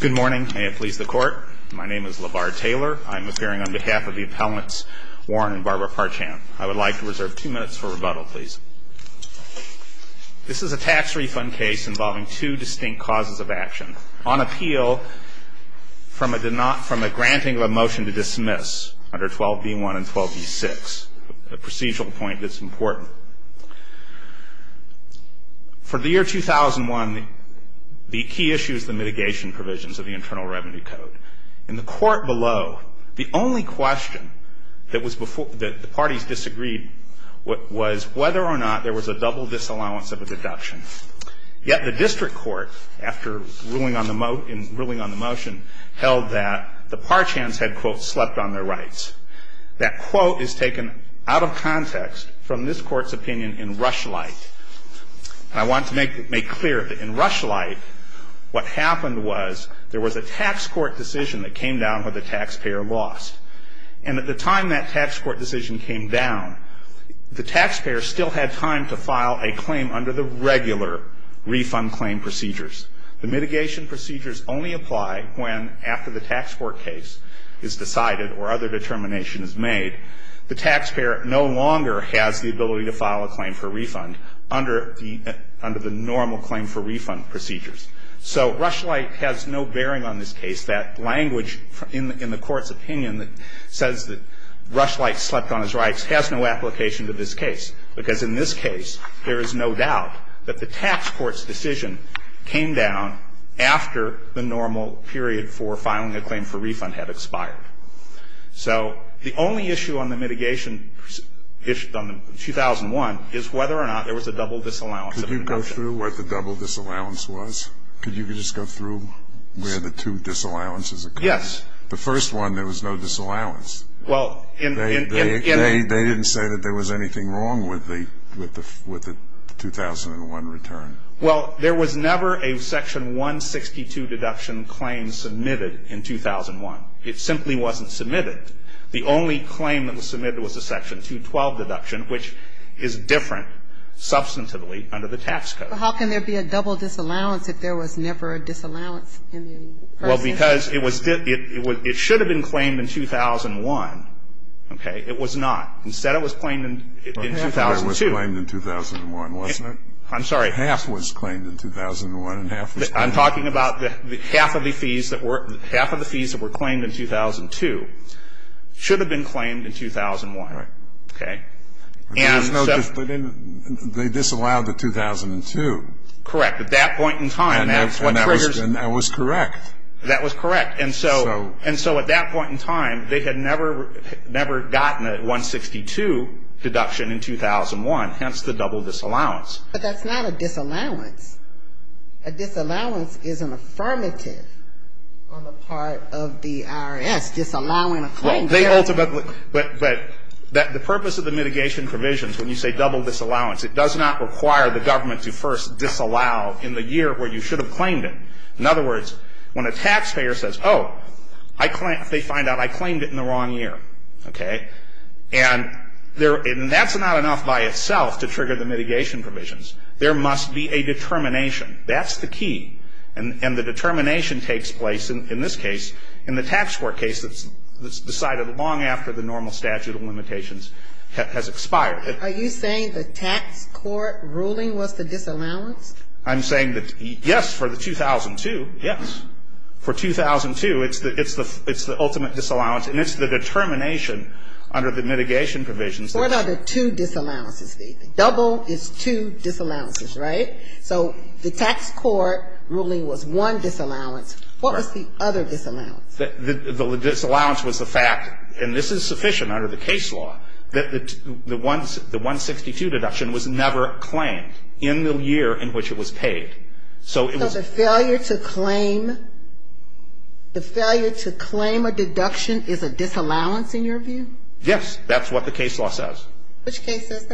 Good morning. May it please the Court. My name is LeVar Taylor. I'm appearing on behalf of the appellants Warren and Barbara Parchan. I would like to reserve two minutes for rebuttal, please. This is a tax refund case involving two distinct causes of action on appeal from a granting of a motion to dismiss under 12b1 and 12b6, a procedural point that's important. For the year 2001, the key issue is the mitigation provisions of the Internal Revenue Code. In the court below, the only question that the parties disagreed was whether or not there was a double disallowance of a deduction. Yet the district court, after ruling on the motion, held that the Parchans had, quote, slept on their rights. That quote is taken out of context from this Court's opinion in Rush Light. And I want to make clear that in Rush Light, what happened was there was a tax court decision that came down where the taxpayer lost. And at the time that tax court decision came down, the taxpayer still had time to file a claim under the regular refund claim procedures. The mitigation procedures only apply when, after the tax court case is decided or other determination is made, the taxpayer no longer has the ability to file a claim for refund under the normal claim for refund procedures. So Rush Light has no bearing on this case. That language in the Court's opinion that says that Rush Light slept on his rights has no application to this case, because in this case, there is no doubt that the tax court's decision came down after the normal period for filing a claim for refund had expired. So the only issue on the mitigation issue on the 2001 is whether or not there was a double disallowance of a deduction. Could you go through what the double disallowance was? Could you just go through where the two disallowances occurred? Yes. The first one, there was no disallowance. Well, in the end they didn't say that there was anything wrong with the 2001 return. Well, there was never a section 162 deduction claim submitted in 2001. It simply wasn't submitted. The only claim that was submitted was the section 212 deduction, which is different substantively under the tax code. How can there be a double disallowance if there was never a disallowance in the person? Well, because it should have been claimed in 2001. Okay? It was not. Instead it was claimed in 2002. It was claimed in 2001, wasn't it? I'm sorry. Half was claimed in 2001 and half was claimed in 2002. I'm talking about half of the fees that were claimed in 2002 should have been claimed in 2001. Right. Okay? There was no, they disallowed the 2002. Correct. At that point in time, that's what triggers. And that was correct. That was correct. And so at that point in time, they had never gotten a 162 deduction in 2001, hence the double disallowance. But that's not a disallowance. A disallowance is an affirmative on the part of the IRS disallowing a claim. Well, they ultimately, but the purpose of the mitigation provisions when you say double disallowance, it does not require the government to first disallow in the year where you should have claimed it. In other words, when a taxpayer says, oh, they find out I claimed it in the wrong year. Okay? And that's not enough by itself to trigger the mitigation provisions. There must be a determination. That's the key. And the determination takes place in this case, in the tax court case that's decided long after the normal statute of limitations has expired. Are you saying the tax court ruling was the disallowance? I'm saying that, yes, for the 2002, yes. For 2002, it's the ultimate disallowance, and it's the determination under the mitigation provisions. What are the two disallowances? Double is two disallowances, right? So the tax court ruling was one disallowance. What was the other disallowance? The disallowance was the fact, and this is sufficient under the case law, that the 162 deduction was never claimed in the year in which it was paid. So it was a failure to claim. The failure to claim a deduction is a disallowance in your view? Yes. That's what the case law says. Which case says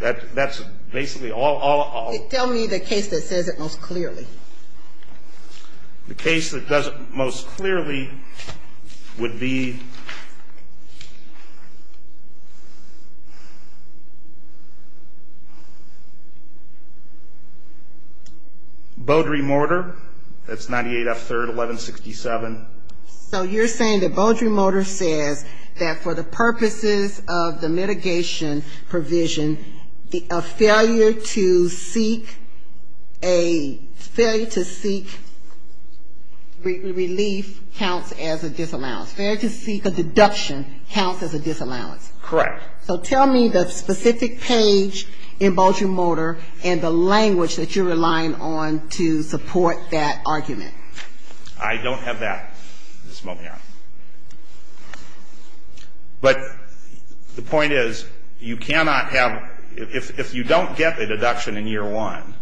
that? That's basically all. Tell me the case that says it most clearly. The case that does it most clearly would be Beaudry-Mortar. That's 98 F. 3rd, 1167. So you're saying that Beaudry-Mortar says that for the purposes of the mitigation provision, a failure to seek a failure to seek relief counts as a disallowance. Failure to seek a deduction counts as a disallowance. Correct. So tell me the specific page in Beaudry-Mortar and the language that you're relying on to support that argument. I don't have that at this moment, Your Honor. But the point is, you cannot have – if you don't get the deduction in year one,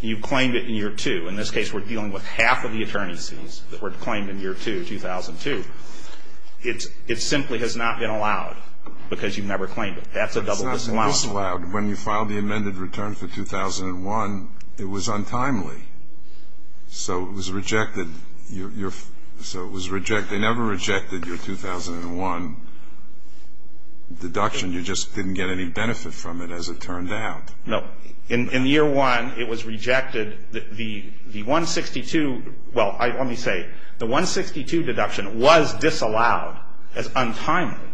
you've claimed it in year two. In this case, we're dealing with half of the attorneys' fees that were claimed in year two, 2002. It simply has not been allowed because you've never claimed it. That's a double disallowance. It's not a disallowed. When you filed the amended return for 2001, it was untimely. So it was rejected. So it was rejected. They never rejected your 2001 deduction. You just didn't get any benefit from it, as it turned out. No. In year one, it was rejected. The 162 – well, let me say, the 162 deduction was disallowed as untimely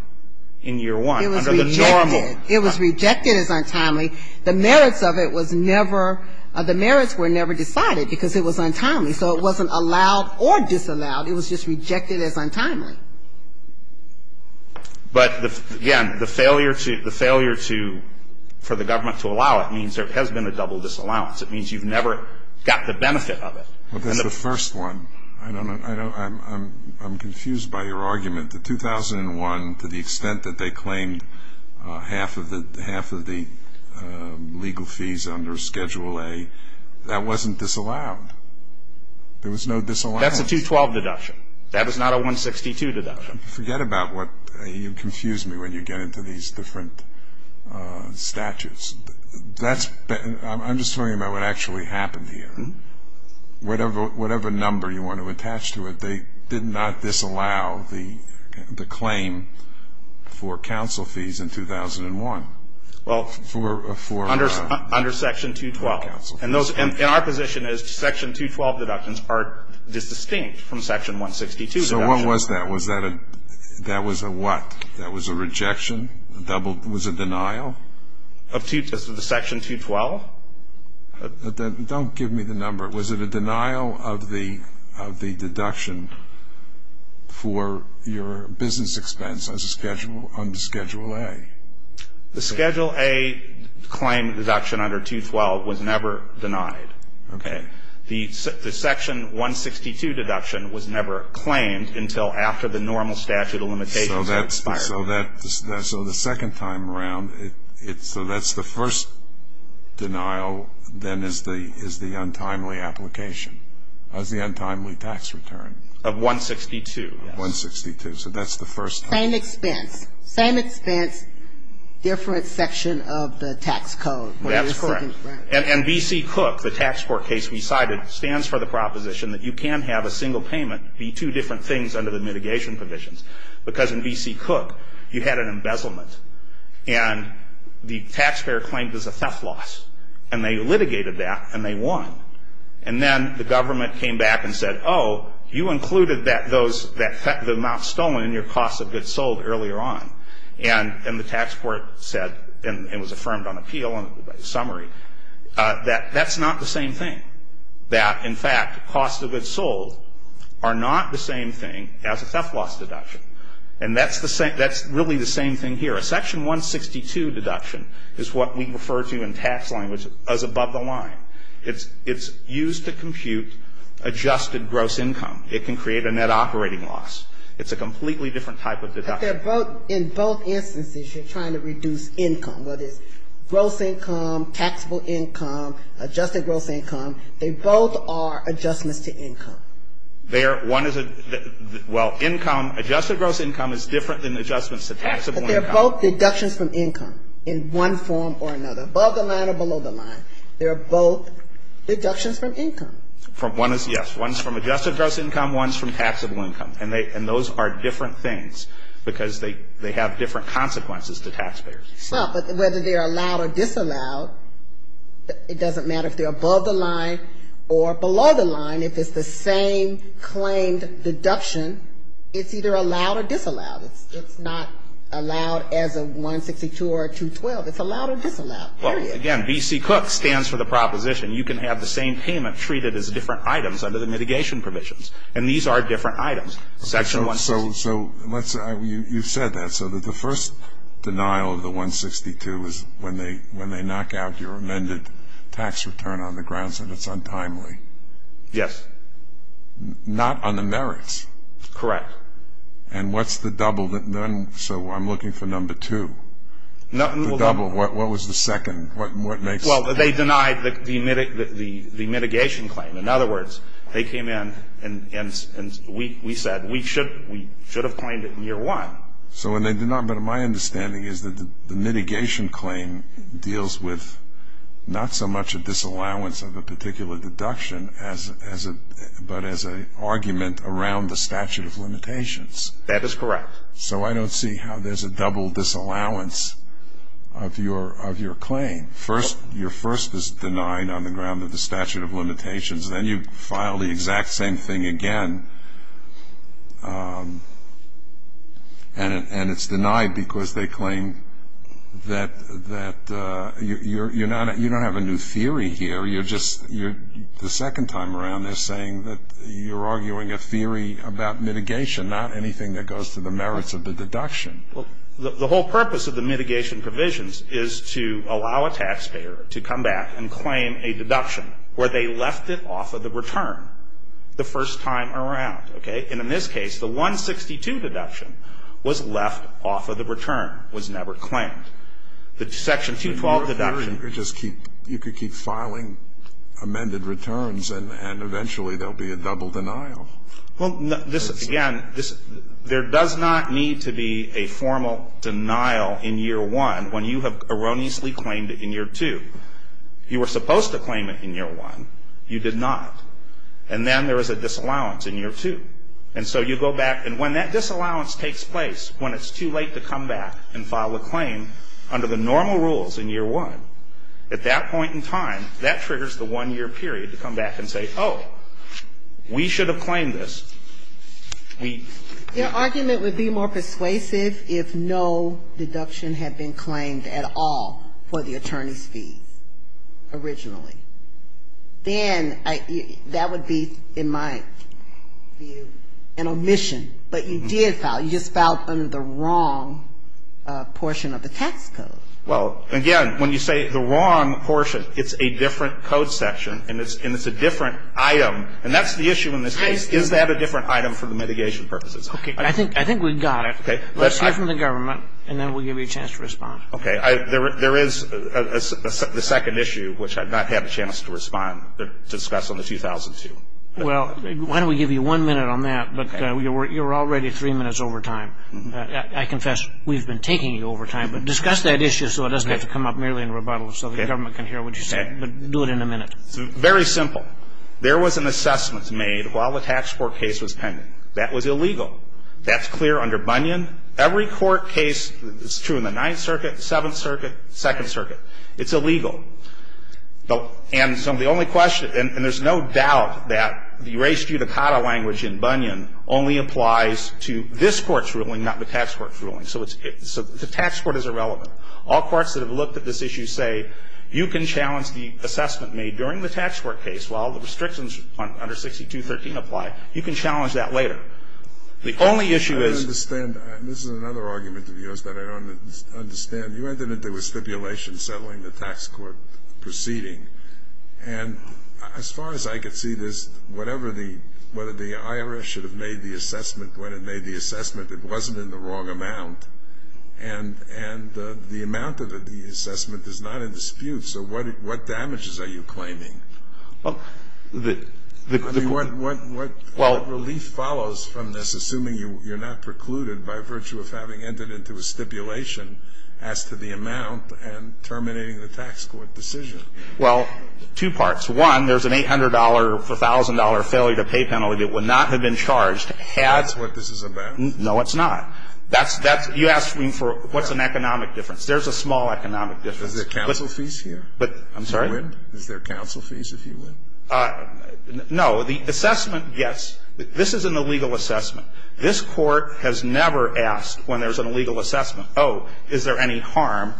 in year one under the normal. It was rejected. It was rejected as untimely. The merits of it was never – the merits were never decided because it was untimely. So it wasn't allowed or disallowed. It was just rejected as untimely. But, again, the failure to – the failure to – for the government to allow it means there has been a double disallowance. It means you've never got the benefit of it. Well, that's the first one. I don't – I'm confused by your argument. The 2001, to the extent that they claimed half of the – half of the legal fees under Schedule A, that wasn't disallowed. There was no disallowance. That's a 212 deduction. That was not a 162 deduction. Forget about what – you confuse me when you get into these different statutes. That's – I'm just talking about what actually happened here. Whatever number you want to attach to it, they did not disallow the claim for counsel fees in 2001. Well, under Section 212. And those – and our position is Section 212 deductions are distinct from Section 162 deductions. So what was that? Was that a – that was a what? That was a rejection? A double – was it denial? Of Section 212? Don't give me the number. Was it a denial of the deduction for your business expense under Schedule A? The Schedule A claim deduction under 212 was never denied. Okay. The Section 162 deduction was never claimed until after the normal statute of limitations had expired. So the second time around, so that's the first denial then is the untimely application, is the untimely tax return. Of 162. Of 162. So that's the first time. Same expense. Same expense, different section of the tax code. That's correct. And B.C. Cook, the tax court case we cited, stands for the proposition that you can have a single payment be two different things under the mitigation provisions. Because in B.C. Cook, you had an embezzlement. And the taxpayer claimed it was a theft loss. And they litigated that, and they won. And then the government came back and said, oh, you included those – the amount stolen in your cost of goods sold earlier on. And the tax court said, and it was affirmed on appeal and summary, that that's not the same thing. That, in fact, costs of goods sold are not the same thing as a theft loss deduction. And that's the same – that's really the same thing here. A section 162 deduction is what we refer to in tax language as above the line. It's used to compute adjusted gross income. It can create a net operating loss. It's a completely different type of deduction. But they're both – in both instances, you're trying to reduce income. What is gross income, taxable income, adjusted gross income? They both are adjustments to income. They're – one is a – well, income – adjusted gross income is different than adjustments to taxable income. But they're both deductions from income in one form or another, above the line or below the line. They're both deductions from income. From – one is, yes. One's from adjusted gross income. One's from taxable income. And they – and those are different things because they have different consequences to taxpayers. Well, but whether they're allowed or disallowed, it doesn't matter if they're above the line or below the line. If it's the same claimed deduction, it's either allowed or disallowed. It's not allowed as a 162 or a 212. It's allowed or disallowed. Well, again, B.C. Cook stands for the proposition you can have the same payment treated as different items under the mitigation provisions. And these are different items. Section 162. So let's – you've said that. So the first denial of the 162 is when they knock out your amended tax return on the grounds that it's untimely. Yes. Not on the merits. Correct. And what's the double? So I'm looking for number two. The double. What was the second? What makes – Well, they denied the mitigation claim. In other words, they came in and we said we should have claimed it in year one. So when they denied – but my understanding is that the mitigation claim deals with not so much a disallowance of a particular deduction as a – but as an argument around the statute of limitations. That is correct. So I don't see how there's a double disallowance of your claim. First – your first is denied on the ground of the statute of limitations. Then you file the exact same thing again and it's denied because they claim that you're not – you don't have a new theory here. You're just – the second time around they're saying that you're arguing a theory about mitigation, not anything that goes to the merits of the deduction. Well, the whole purpose of the mitigation provisions is to allow a taxpayer to come back and claim a deduction where they left it off of the return the first time around, okay? And in this case, the 162 deduction was left off of the return, was never claimed. The section 212 deduction – You could keep filing amended returns and eventually there will be a double denial. Well, this is – again, there does not need to be a formal denial in year 1 when you have erroneously claimed it in year 2. You were supposed to claim it in year 1. You did not. And then there was a disallowance in year 2. And so you go back and when that disallowance takes place, when it's too late to come back and file a claim under the normal rules in year 1, at that point in time, that triggers the one-year period to come back and say, oh, we should have claimed this. We – Your argument would be more persuasive if no deduction had been claimed at all for the attorney's fees originally. Then that would be, in my view, an omission. But you did file. You just filed under the wrong portion of the tax code. Well, again, when you say the wrong portion, it's a different code section and it's a different item. And that's the issue in this case. Is that a different item for the mitigation purposes? Okay. I think we've got it. Let's hear from the government and then we'll give you a chance to respond. Okay. There is the second issue, which I've not had a chance to respond to discuss on the 2002. Well, why don't we give you one minute on that? But you're already three minutes over time. I confess we've been taking you over time, but discuss that issue so it doesn't have to come up merely in rebuttal so the government can hear what you say. But do it in a minute. Very simple. There was an assessment made while the tax court case was pending. That was illegal. That's clear under Bunyan. Every court case that's true in the Ninth Circuit, Seventh Circuit, Second Circuit, it's illegal. And so the only question – And there's no doubt that the res judicata language in Bunyan only applies to this court's ruling, not the tax court's ruling. So the tax court is irrelevant. All courts that have looked at this issue say you can challenge the assessment made during the tax court case while the restrictions under 6213 apply. You can challenge that later. The only issue is – I don't understand. This is another argument of yours that I don't understand. You went into it with stipulations settling the tax court proceeding. And as far as I could see, whatever the – whether the IRS should have made the assessment when it made the assessment, it wasn't in the wrong amount. And the amount of the assessment is not in dispute. So what damages are you claiming? Well, the – I mean, what relief follows from this, assuming you're not precluded by virtue of having entered into a stipulation as to the amount and terminating the tax court decision? Well, two parts. One, there's an $800, $1,000 failure to pay penalty that would not have been charged had – That's what this is about. No, it's not. That's – that's – you asked me for what's an economic difference. There's a small economic difference. Is there counsel fees here? I'm sorry? If you win? Is there counsel fees if you win? No. The assessment, yes. This is an illegal assessment. This Court has never asked when there's an illegal assessment, oh, is there any harm.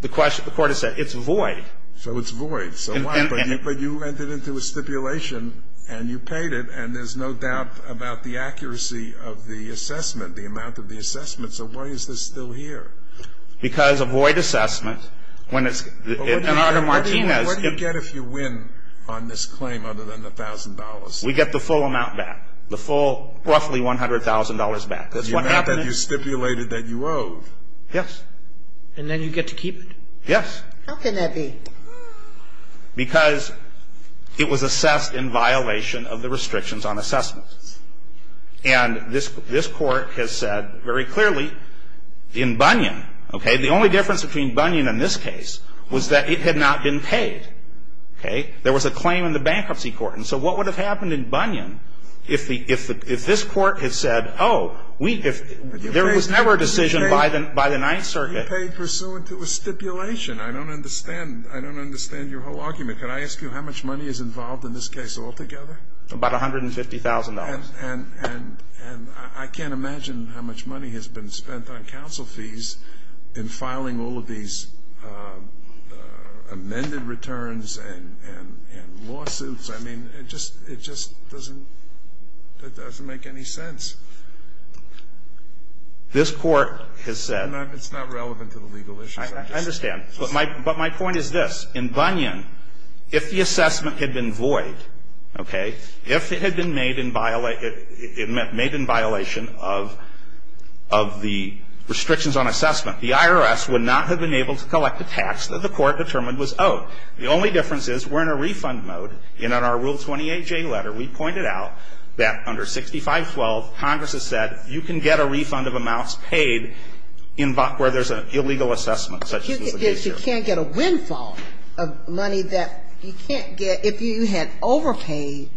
The Court has said it's void. So it's void. So what? But you entered into a stipulation, and you paid it, and there's no doubt about the accuracy of the assessment, the amount of the assessment. So why is this still here? Because a void assessment, when it's – But what do you get if you win on this claim other than the $1,000? We get the full amount back, the full roughly $100,000 back. That's what happened. You stipulated that you owed. Yes. And then you get to keep it? Yes. How can that be? Because it was assessed in violation of the restrictions on assessment. And this Court has said very clearly in Bunyan, okay, the only difference between Bunyan and this case was that it had not been paid. Okay? There was a claim in the Bankruptcy Court. And so what would have happened in Bunyan if the – if this Court had said, oh, we – if there was never a decision by the Ninth Circuit. It would have been paid pursuant to a stipulation. I don't understand. I don't understand your whole argument. Could I ask you how much money is involved in this case altogether? About $150,000. And I can't imagine how much money has been spent on counsel fees in filing all of these amended returns and lawsuits. I mean, it just doesn't make any sense. This Court has said – It's not relevant to the legal issues. I understand. But my point is this. In Bunyan, if the assessment had been void, okay, if it had been made in – made in violation of the restrictions on assessment, the IRS would not have been able to collect the tax that the Court determined was owed. The only difference is we're in a refund mode. And in our Rule 28J letter, we pointed out that under 6512, Congress has said, you can get a refund of amounts paid in – where there's an illegal assessment such as was the case here. You can't get a windfall of money that you can't get – if you had overpaid,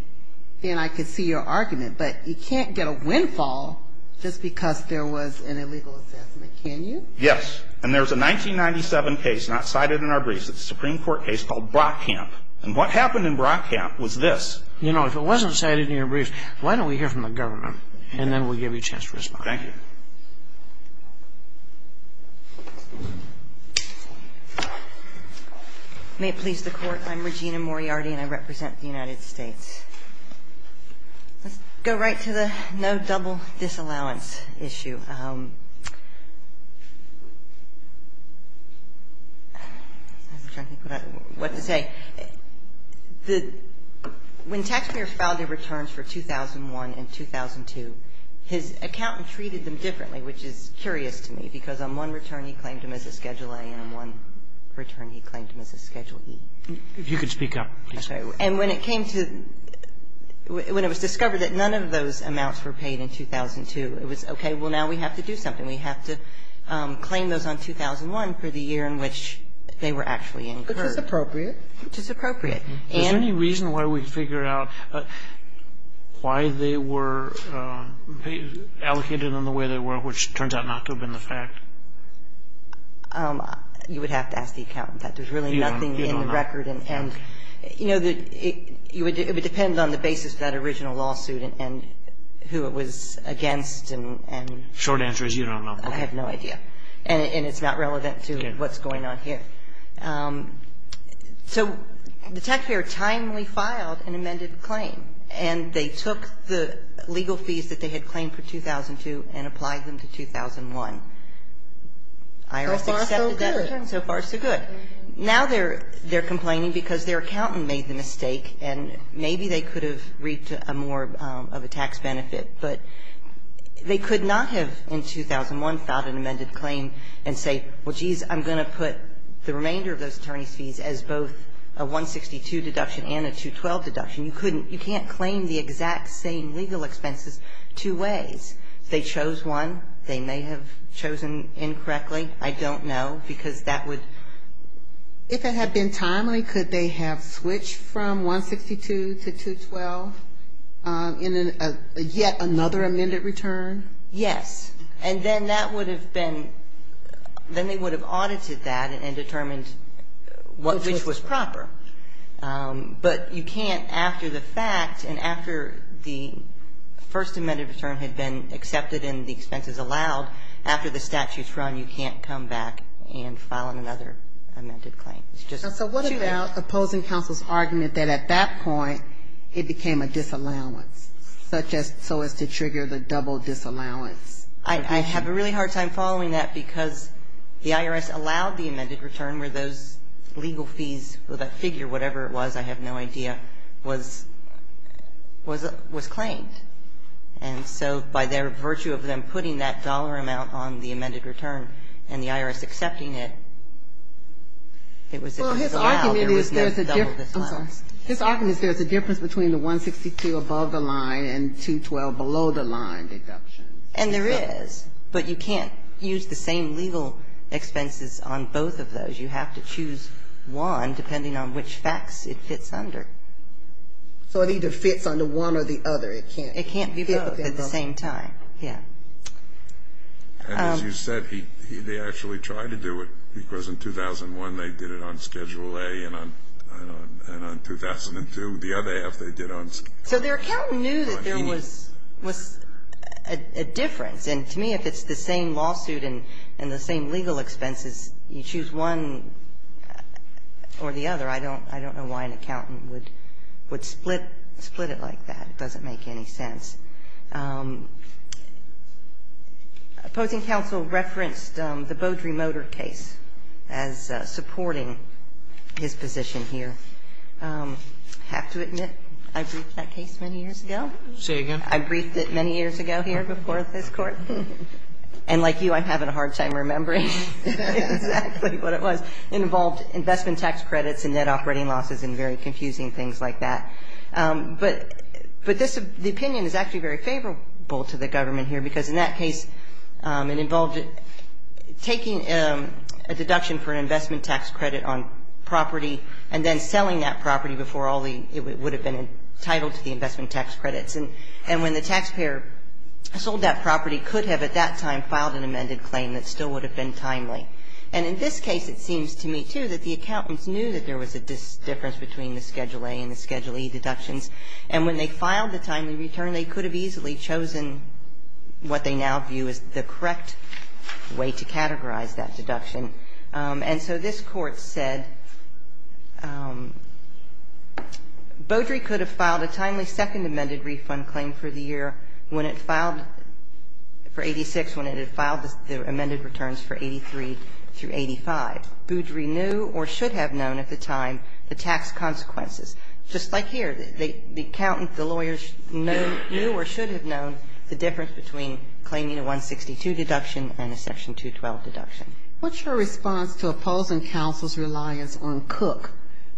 then I could see your argument. But you can't get a windfall just because there was an illegal assessment, can you? Yes. And there's a 1997 case not cited in our briefs. It's a Supreme Court case called Brockamp. And what happened in Brockamp was this. You know, if it wasn't cited in your briefs, why don't we hear from the government and then we'll give you a chance to respond. Thank you. May it please the Court. I'm Regina Moriarty and I represent the United States. Let's go right to the no double disallowance issue. I'm trying to think what to say. The – when taxpayers filed their returns for 2001 and 2002, his accountant treated them differently, which is curious to me, because on one return he claimed them as a Schedule A and on one return he claimed them as a Schedule E. If you could speak up, please. And when it came to – when it was discovered that none of those amounts were paid in 2002, it was, okay, well, now we have to do something. We have to claim those on 2001 for the year in which they were actually incurred. Which is appropriate. Which is appropriate. And – Is there any reason why we figure out why they were allocated in the way they were, which turns out not to have been the fact? You would have to ask the accountant that. There's really nothing in the record. And, you know, it would depend on the basis of that original lawsuit and who it was against and – Short answer is you don't know. I have no idea. And it's not relevant to what's going on here. So the taxpayer timely filed an amended claim. And they took the legal fees that they had claimed for 2002 and applied them to 2001. IRS accepted that. So far, so good. So far, so good. Now they're complaining because their accountant made the mistake and maybe they could have reaped more of a tax benefit. But they could not have in 2001 filed an amended claim and say, well, geez, I'm going to put the remainder of those attorneys' fees as both a 162 deduction and a 212 deduction. You couldn't – you can't claim the exact same legal expenses two ways. They chose one. They may have chosen incorrectly. I don't know, because that would – Normally, could they have switched from 162 to 212 in yet another amended return? Yes. And then that would have been – then they would have audited that and determined which was proper. But you can't after the fact and after the first amended return had been accepted and the expenses allowed, after the statute's run, you can't come back and file another amended claim. So what about opposing counsel's argument that at that point it became a disallowance, such as so as to trigger the double disallowance? I have a really hard time following that because the IRS allowed the amended return where those legal fees, or that figure, whatever it was, I have no idea, was claimed. And so by their virtue of them putting that dollar amount on the amended return and the IRS accepting it, it was a disallow. Well, his argument is there's a difference. I'm sorry. His argument is there's a difference between the 162 above the line and 212 below the line deductions. And there is. But you can't use the same legal expenses on both of those. You have to choose one depending on which facts it fits under. So it either fits under one or the other. It can't be both. It can't be both at the same time. Yeah. And as you said, he actually tried to do it, because in 2001 they did it on Schedule A and on 2002, the other half they did on Schedule E. So their accountant knew that there was a difference. And to me, if it's the same lawsuit and the same legal expenses, you choose one or the other. I don't know why an accountant would split it like that. It doesn't make any sense. Opposing counsel referenced the Beaudry-Motor case as supporting his position here. I have to admit, I briefed that case many years ago. Say it again. I briefed it many years ago here before this Court. And like you, I'm having a hard time remembering exactly what it was. It involved investment tax credits and net operating losses and very confusing things like that. But the opinion is actually very favorable to the government here, because in that case it involved taking a deduction for an investment tax credit on property and then selling that property before it would have been entitled to the investment tax credits. And when the taxpayer sold that property, could have at that time filed an amended claim that still would have been timely. And in this case, it seems to me, too, that the accountants knew that there was a difference between the Schedule A and the Schedule E deductions. And when they filed the timely return, they could have easily chosen what they now view as the correct way to categorize that deduction. And so this Court said Beaudry could have filed a timely second amended refund claim for the year when it filed for 86, when it had filed the amended returns for 83 through 85. Now, Beaudry knew or should have known at the time the tax consequences. Just like here, the accountant, the lawyers knew or should have known the difference between claiming a 162 deduction and a Section 212 deduction. What's your response to opposing counsel's reliance on Cook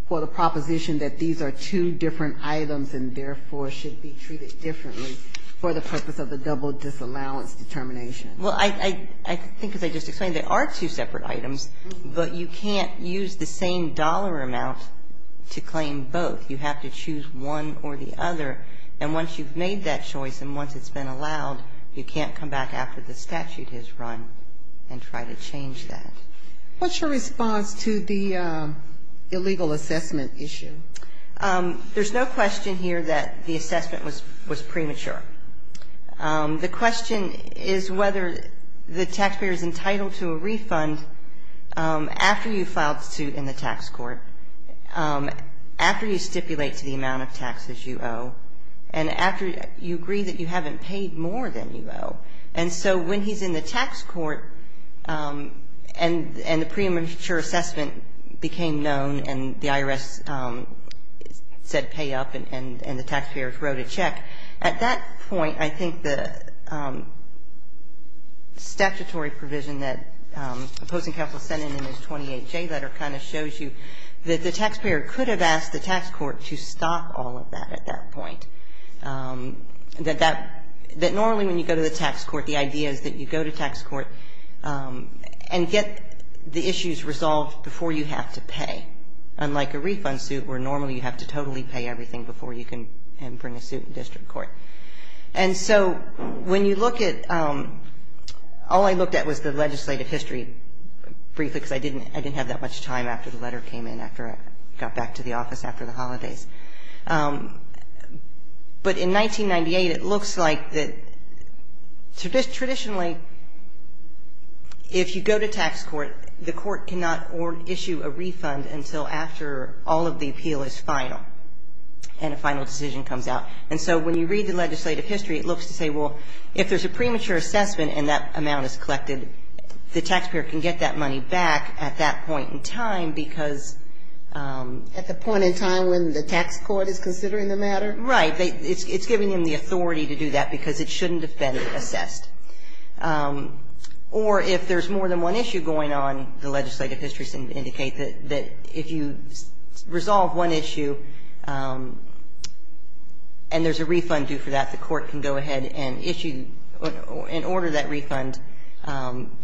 for the proposition that these are two different items and therefore should be treated differently for the purpose of a double disallowance determination? Well, I think as I just explained, they are two separate items, but you can't use the same dollar amount to claim both. You have to choose one or the other. And once you've made that choice and once it's been allowed, you can't come back after the statute has run and try to change that. What's your response to the illegal assessment issue? There's no question here that the assessment was premature. The question is whether the taxpayer is entitled to a refund after you file the suit in the tax court, after you stipulate to the amount of taxes you owe, and after you agree that you haven't paid more than you owe. And so when he's in the tax court and the premature assessment became known and the IRS said pay up and the taxpayers wrote a check, at that point in time, the tax court, at that point, I think the statutory provision that opposing counsel sent in in his 28J letter kind of shows you that the taxpayer could have asked the tax court to stop all of that at that point. That normally when you go to the tax court, the idea is that you go to tax court and get the issues resolved before you have to pay, unlike a refund suit where normally you have to totally pay everything before you can bring a suit in district court. And so when you look at, all I looked at was the legislative history briefly because I didn't have that much time after the letter came in after I got back to the office after the holidays. But in 1998, it looks like that traditionally, if you go to tax court, the court cannot issue a refund until after all of the appeal is final and a final decision comes out. And so when you read the legislative history, it looks to say, well, if there's a premature assessment and that amount is collected, the taxpayer can get that money back at that point in time because At the point in time when the tax court is considering the matter? Right. It's giving them the authority to do that because it shouldn't have been assessed. Or if there's more than one issue going on, the legislative histories indicate that if you resolve one issue and there's a refund due for that, the court can go ahead and issue, and order that refund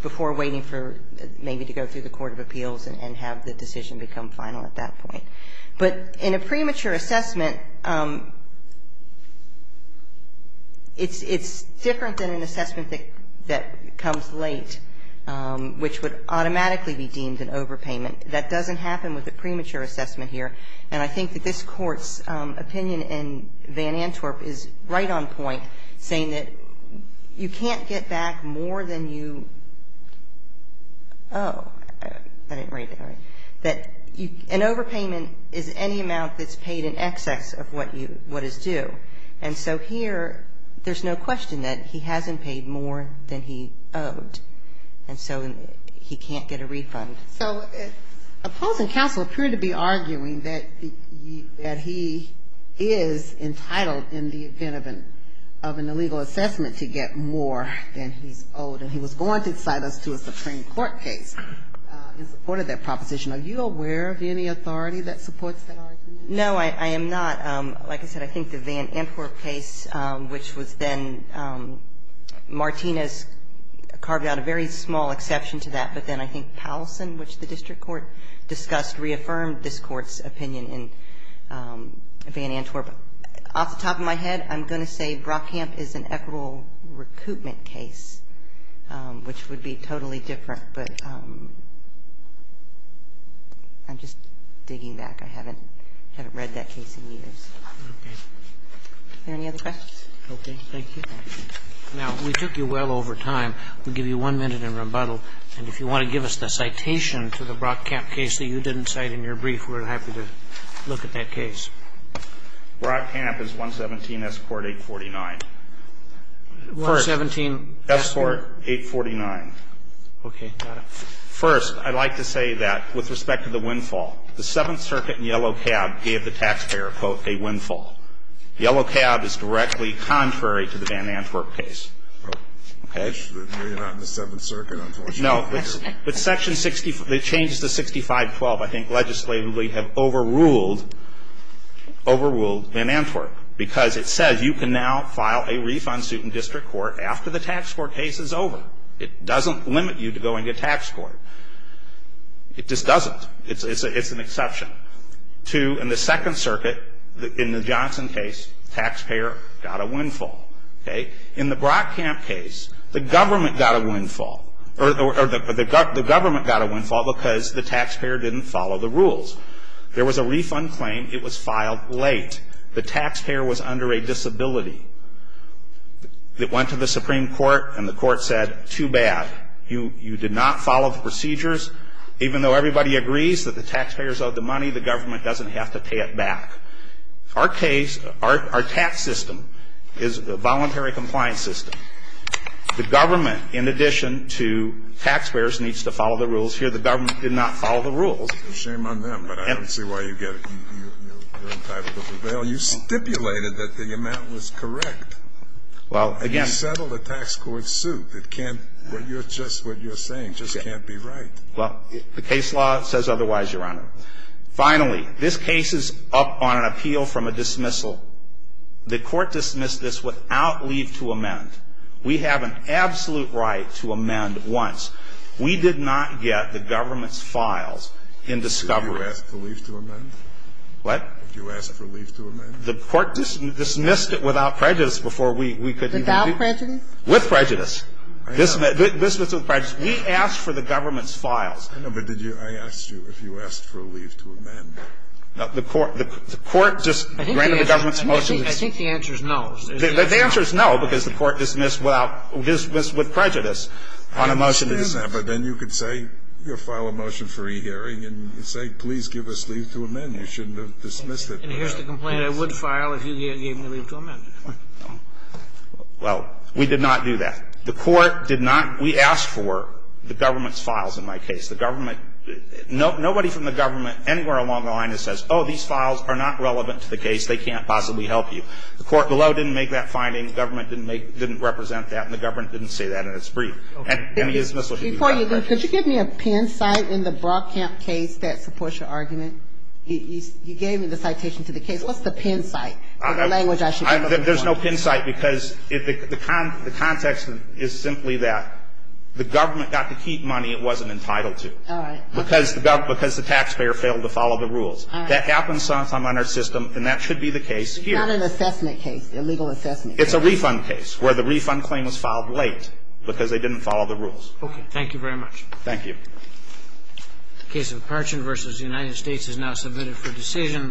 before waiting for maybe to go through the court of appeals and have the decision become final at that point. But in a premature assessment, it's different than an assessment that's going to be an assessment that comes late, which would automatically be deemed an overpayment. That doesn't happen with a premature assessment here. And I think that this Court's opinion in Van Antwerp is right on point, saying that you can't get back more than you owe. I didn't read that right. That an overpayment is any amount that's paid in excess of what is due. And so here there's no question that he hasn't paid more than he owed. And so he can't get a refund. So opposing counsel appeared to be arguing that he is entitled in the event of an illegal assessment to get more than he's owed, and he was going to cite us to a Supreme Court case in support of that proposition. Are you aware of any authority that supports that argument? No, I am not. Like I said, I think the Van Antwerp case, which was then Martinez carved out a very small exception to that. But then I think Powelson, which the district court discussed, reaffirmed this Court's opinion in Van Antwerp. Off the top of my head, I'm going to say Brockamp is an equitable recoupment case, which would be totally different. But I'm just digging back. I haven't read that case in years. Are there any other questions? Okay. Thank you. Now, we took you well over time. We'll give you one minute in rebuttal. And if you want to give us the citation to the Brockamp case that you didn't cite in your brief, we're happy to look at that case. Brockamp is 117 S. Court 849. 117 S. Court 849. Okay. Got it. First, I'd like to say that with respect to the windfall, the Seventh Circuit in Yellow Cab gave the taxpayer, quote, a windfall. Yellow Cab is directly contrary to the Van Antwerp case. Okay? Well, you're not in the Seventh Circuit, unfortunately. No. But Section 60, the changes to 6512 I think legislatively have overruled Van Antwerp because it says you can now file a refund suit in district court after the tax court case is over. It doesn't limit you to going to tax court. It just doesn't. It's an exception. Two, in the Second Circuit, in the Johnson case, taxpayer got a windfall. Okay? In the Brockamp case, the government got a windfall. Or the government got a windfall because the taxpayer didn't follow the rules. There was a refund claim. It was filed late. The taxpayer was under a disability. It went to the Supreme Court, and the court said, too bad. You did not follow the procedures. Even though everybody agrees that the taxpayers owed the money, the government doesn't have to pay it back. Our case, our tax system is a voluntary compliance system. The government, in addition to taxpayers, needs to follow the rules here. The government did not follow the rules. It's a shame on them, but I don't see why you get it. You're entitled to prevail. Well, you stipulated that the amount was correct. Well, again. You settled a tax court suit. It can't, what you're saying just can't be right. Well, the case law says otherwise, Your Honor. Finally, this case is up on an appeal from a dismissal. The court dismissed this without leave to amend. We have an absolute right to amend once. We did not get the government's files in discovery. Did you ask for leave to amend? What? Did you ask for leave to amend? The court dismissed it without prejudice before we could even do it. Without prejudice? With prejudice. I know. This was with prejudice. We asked for the government's files. I know, but did you? I asked you if you asked for a leave to amend. The court just granted the government's motions. I think the answer is no. The answer is no, because the court dismissed without, dismissed with prejudice on a motion to dismiss. I understand that, but then you could say, you know, file a motion for rehearing and say, please give us leave to amend. You shouldn't have dismissed it. And here's the complaint. I would file if you gave me leave to amend. Well, we did not do that. The court did not. We asked for the government's files in my case. The government, nobody from the government anywhere along the line that says, oh, these files are not relevant to the case. They can't possibly help you. The court below didn't make that finding. The government didn't make, didn't represent that. And the government didn't say that in its brief. And any dismissal should be without prejudice. Before you go, could you give me a pin site in the Brockamp case that supports your argument? You gave me the citation to the case. What's the pin site? There's no pin site because the context is simply that the government got to keep money it wasn't entitled to. All right. Because the taxpayer failed to follow the rules. All right. That happens sometimes on our system, and that should be the case here. It's not an assessment case, a legal assessment case. It's a refund case where the refund claim was filed late because they didn't follow the rules. Thank you very much. Thank you. The case of Parchin v. United States is now submitted for decision.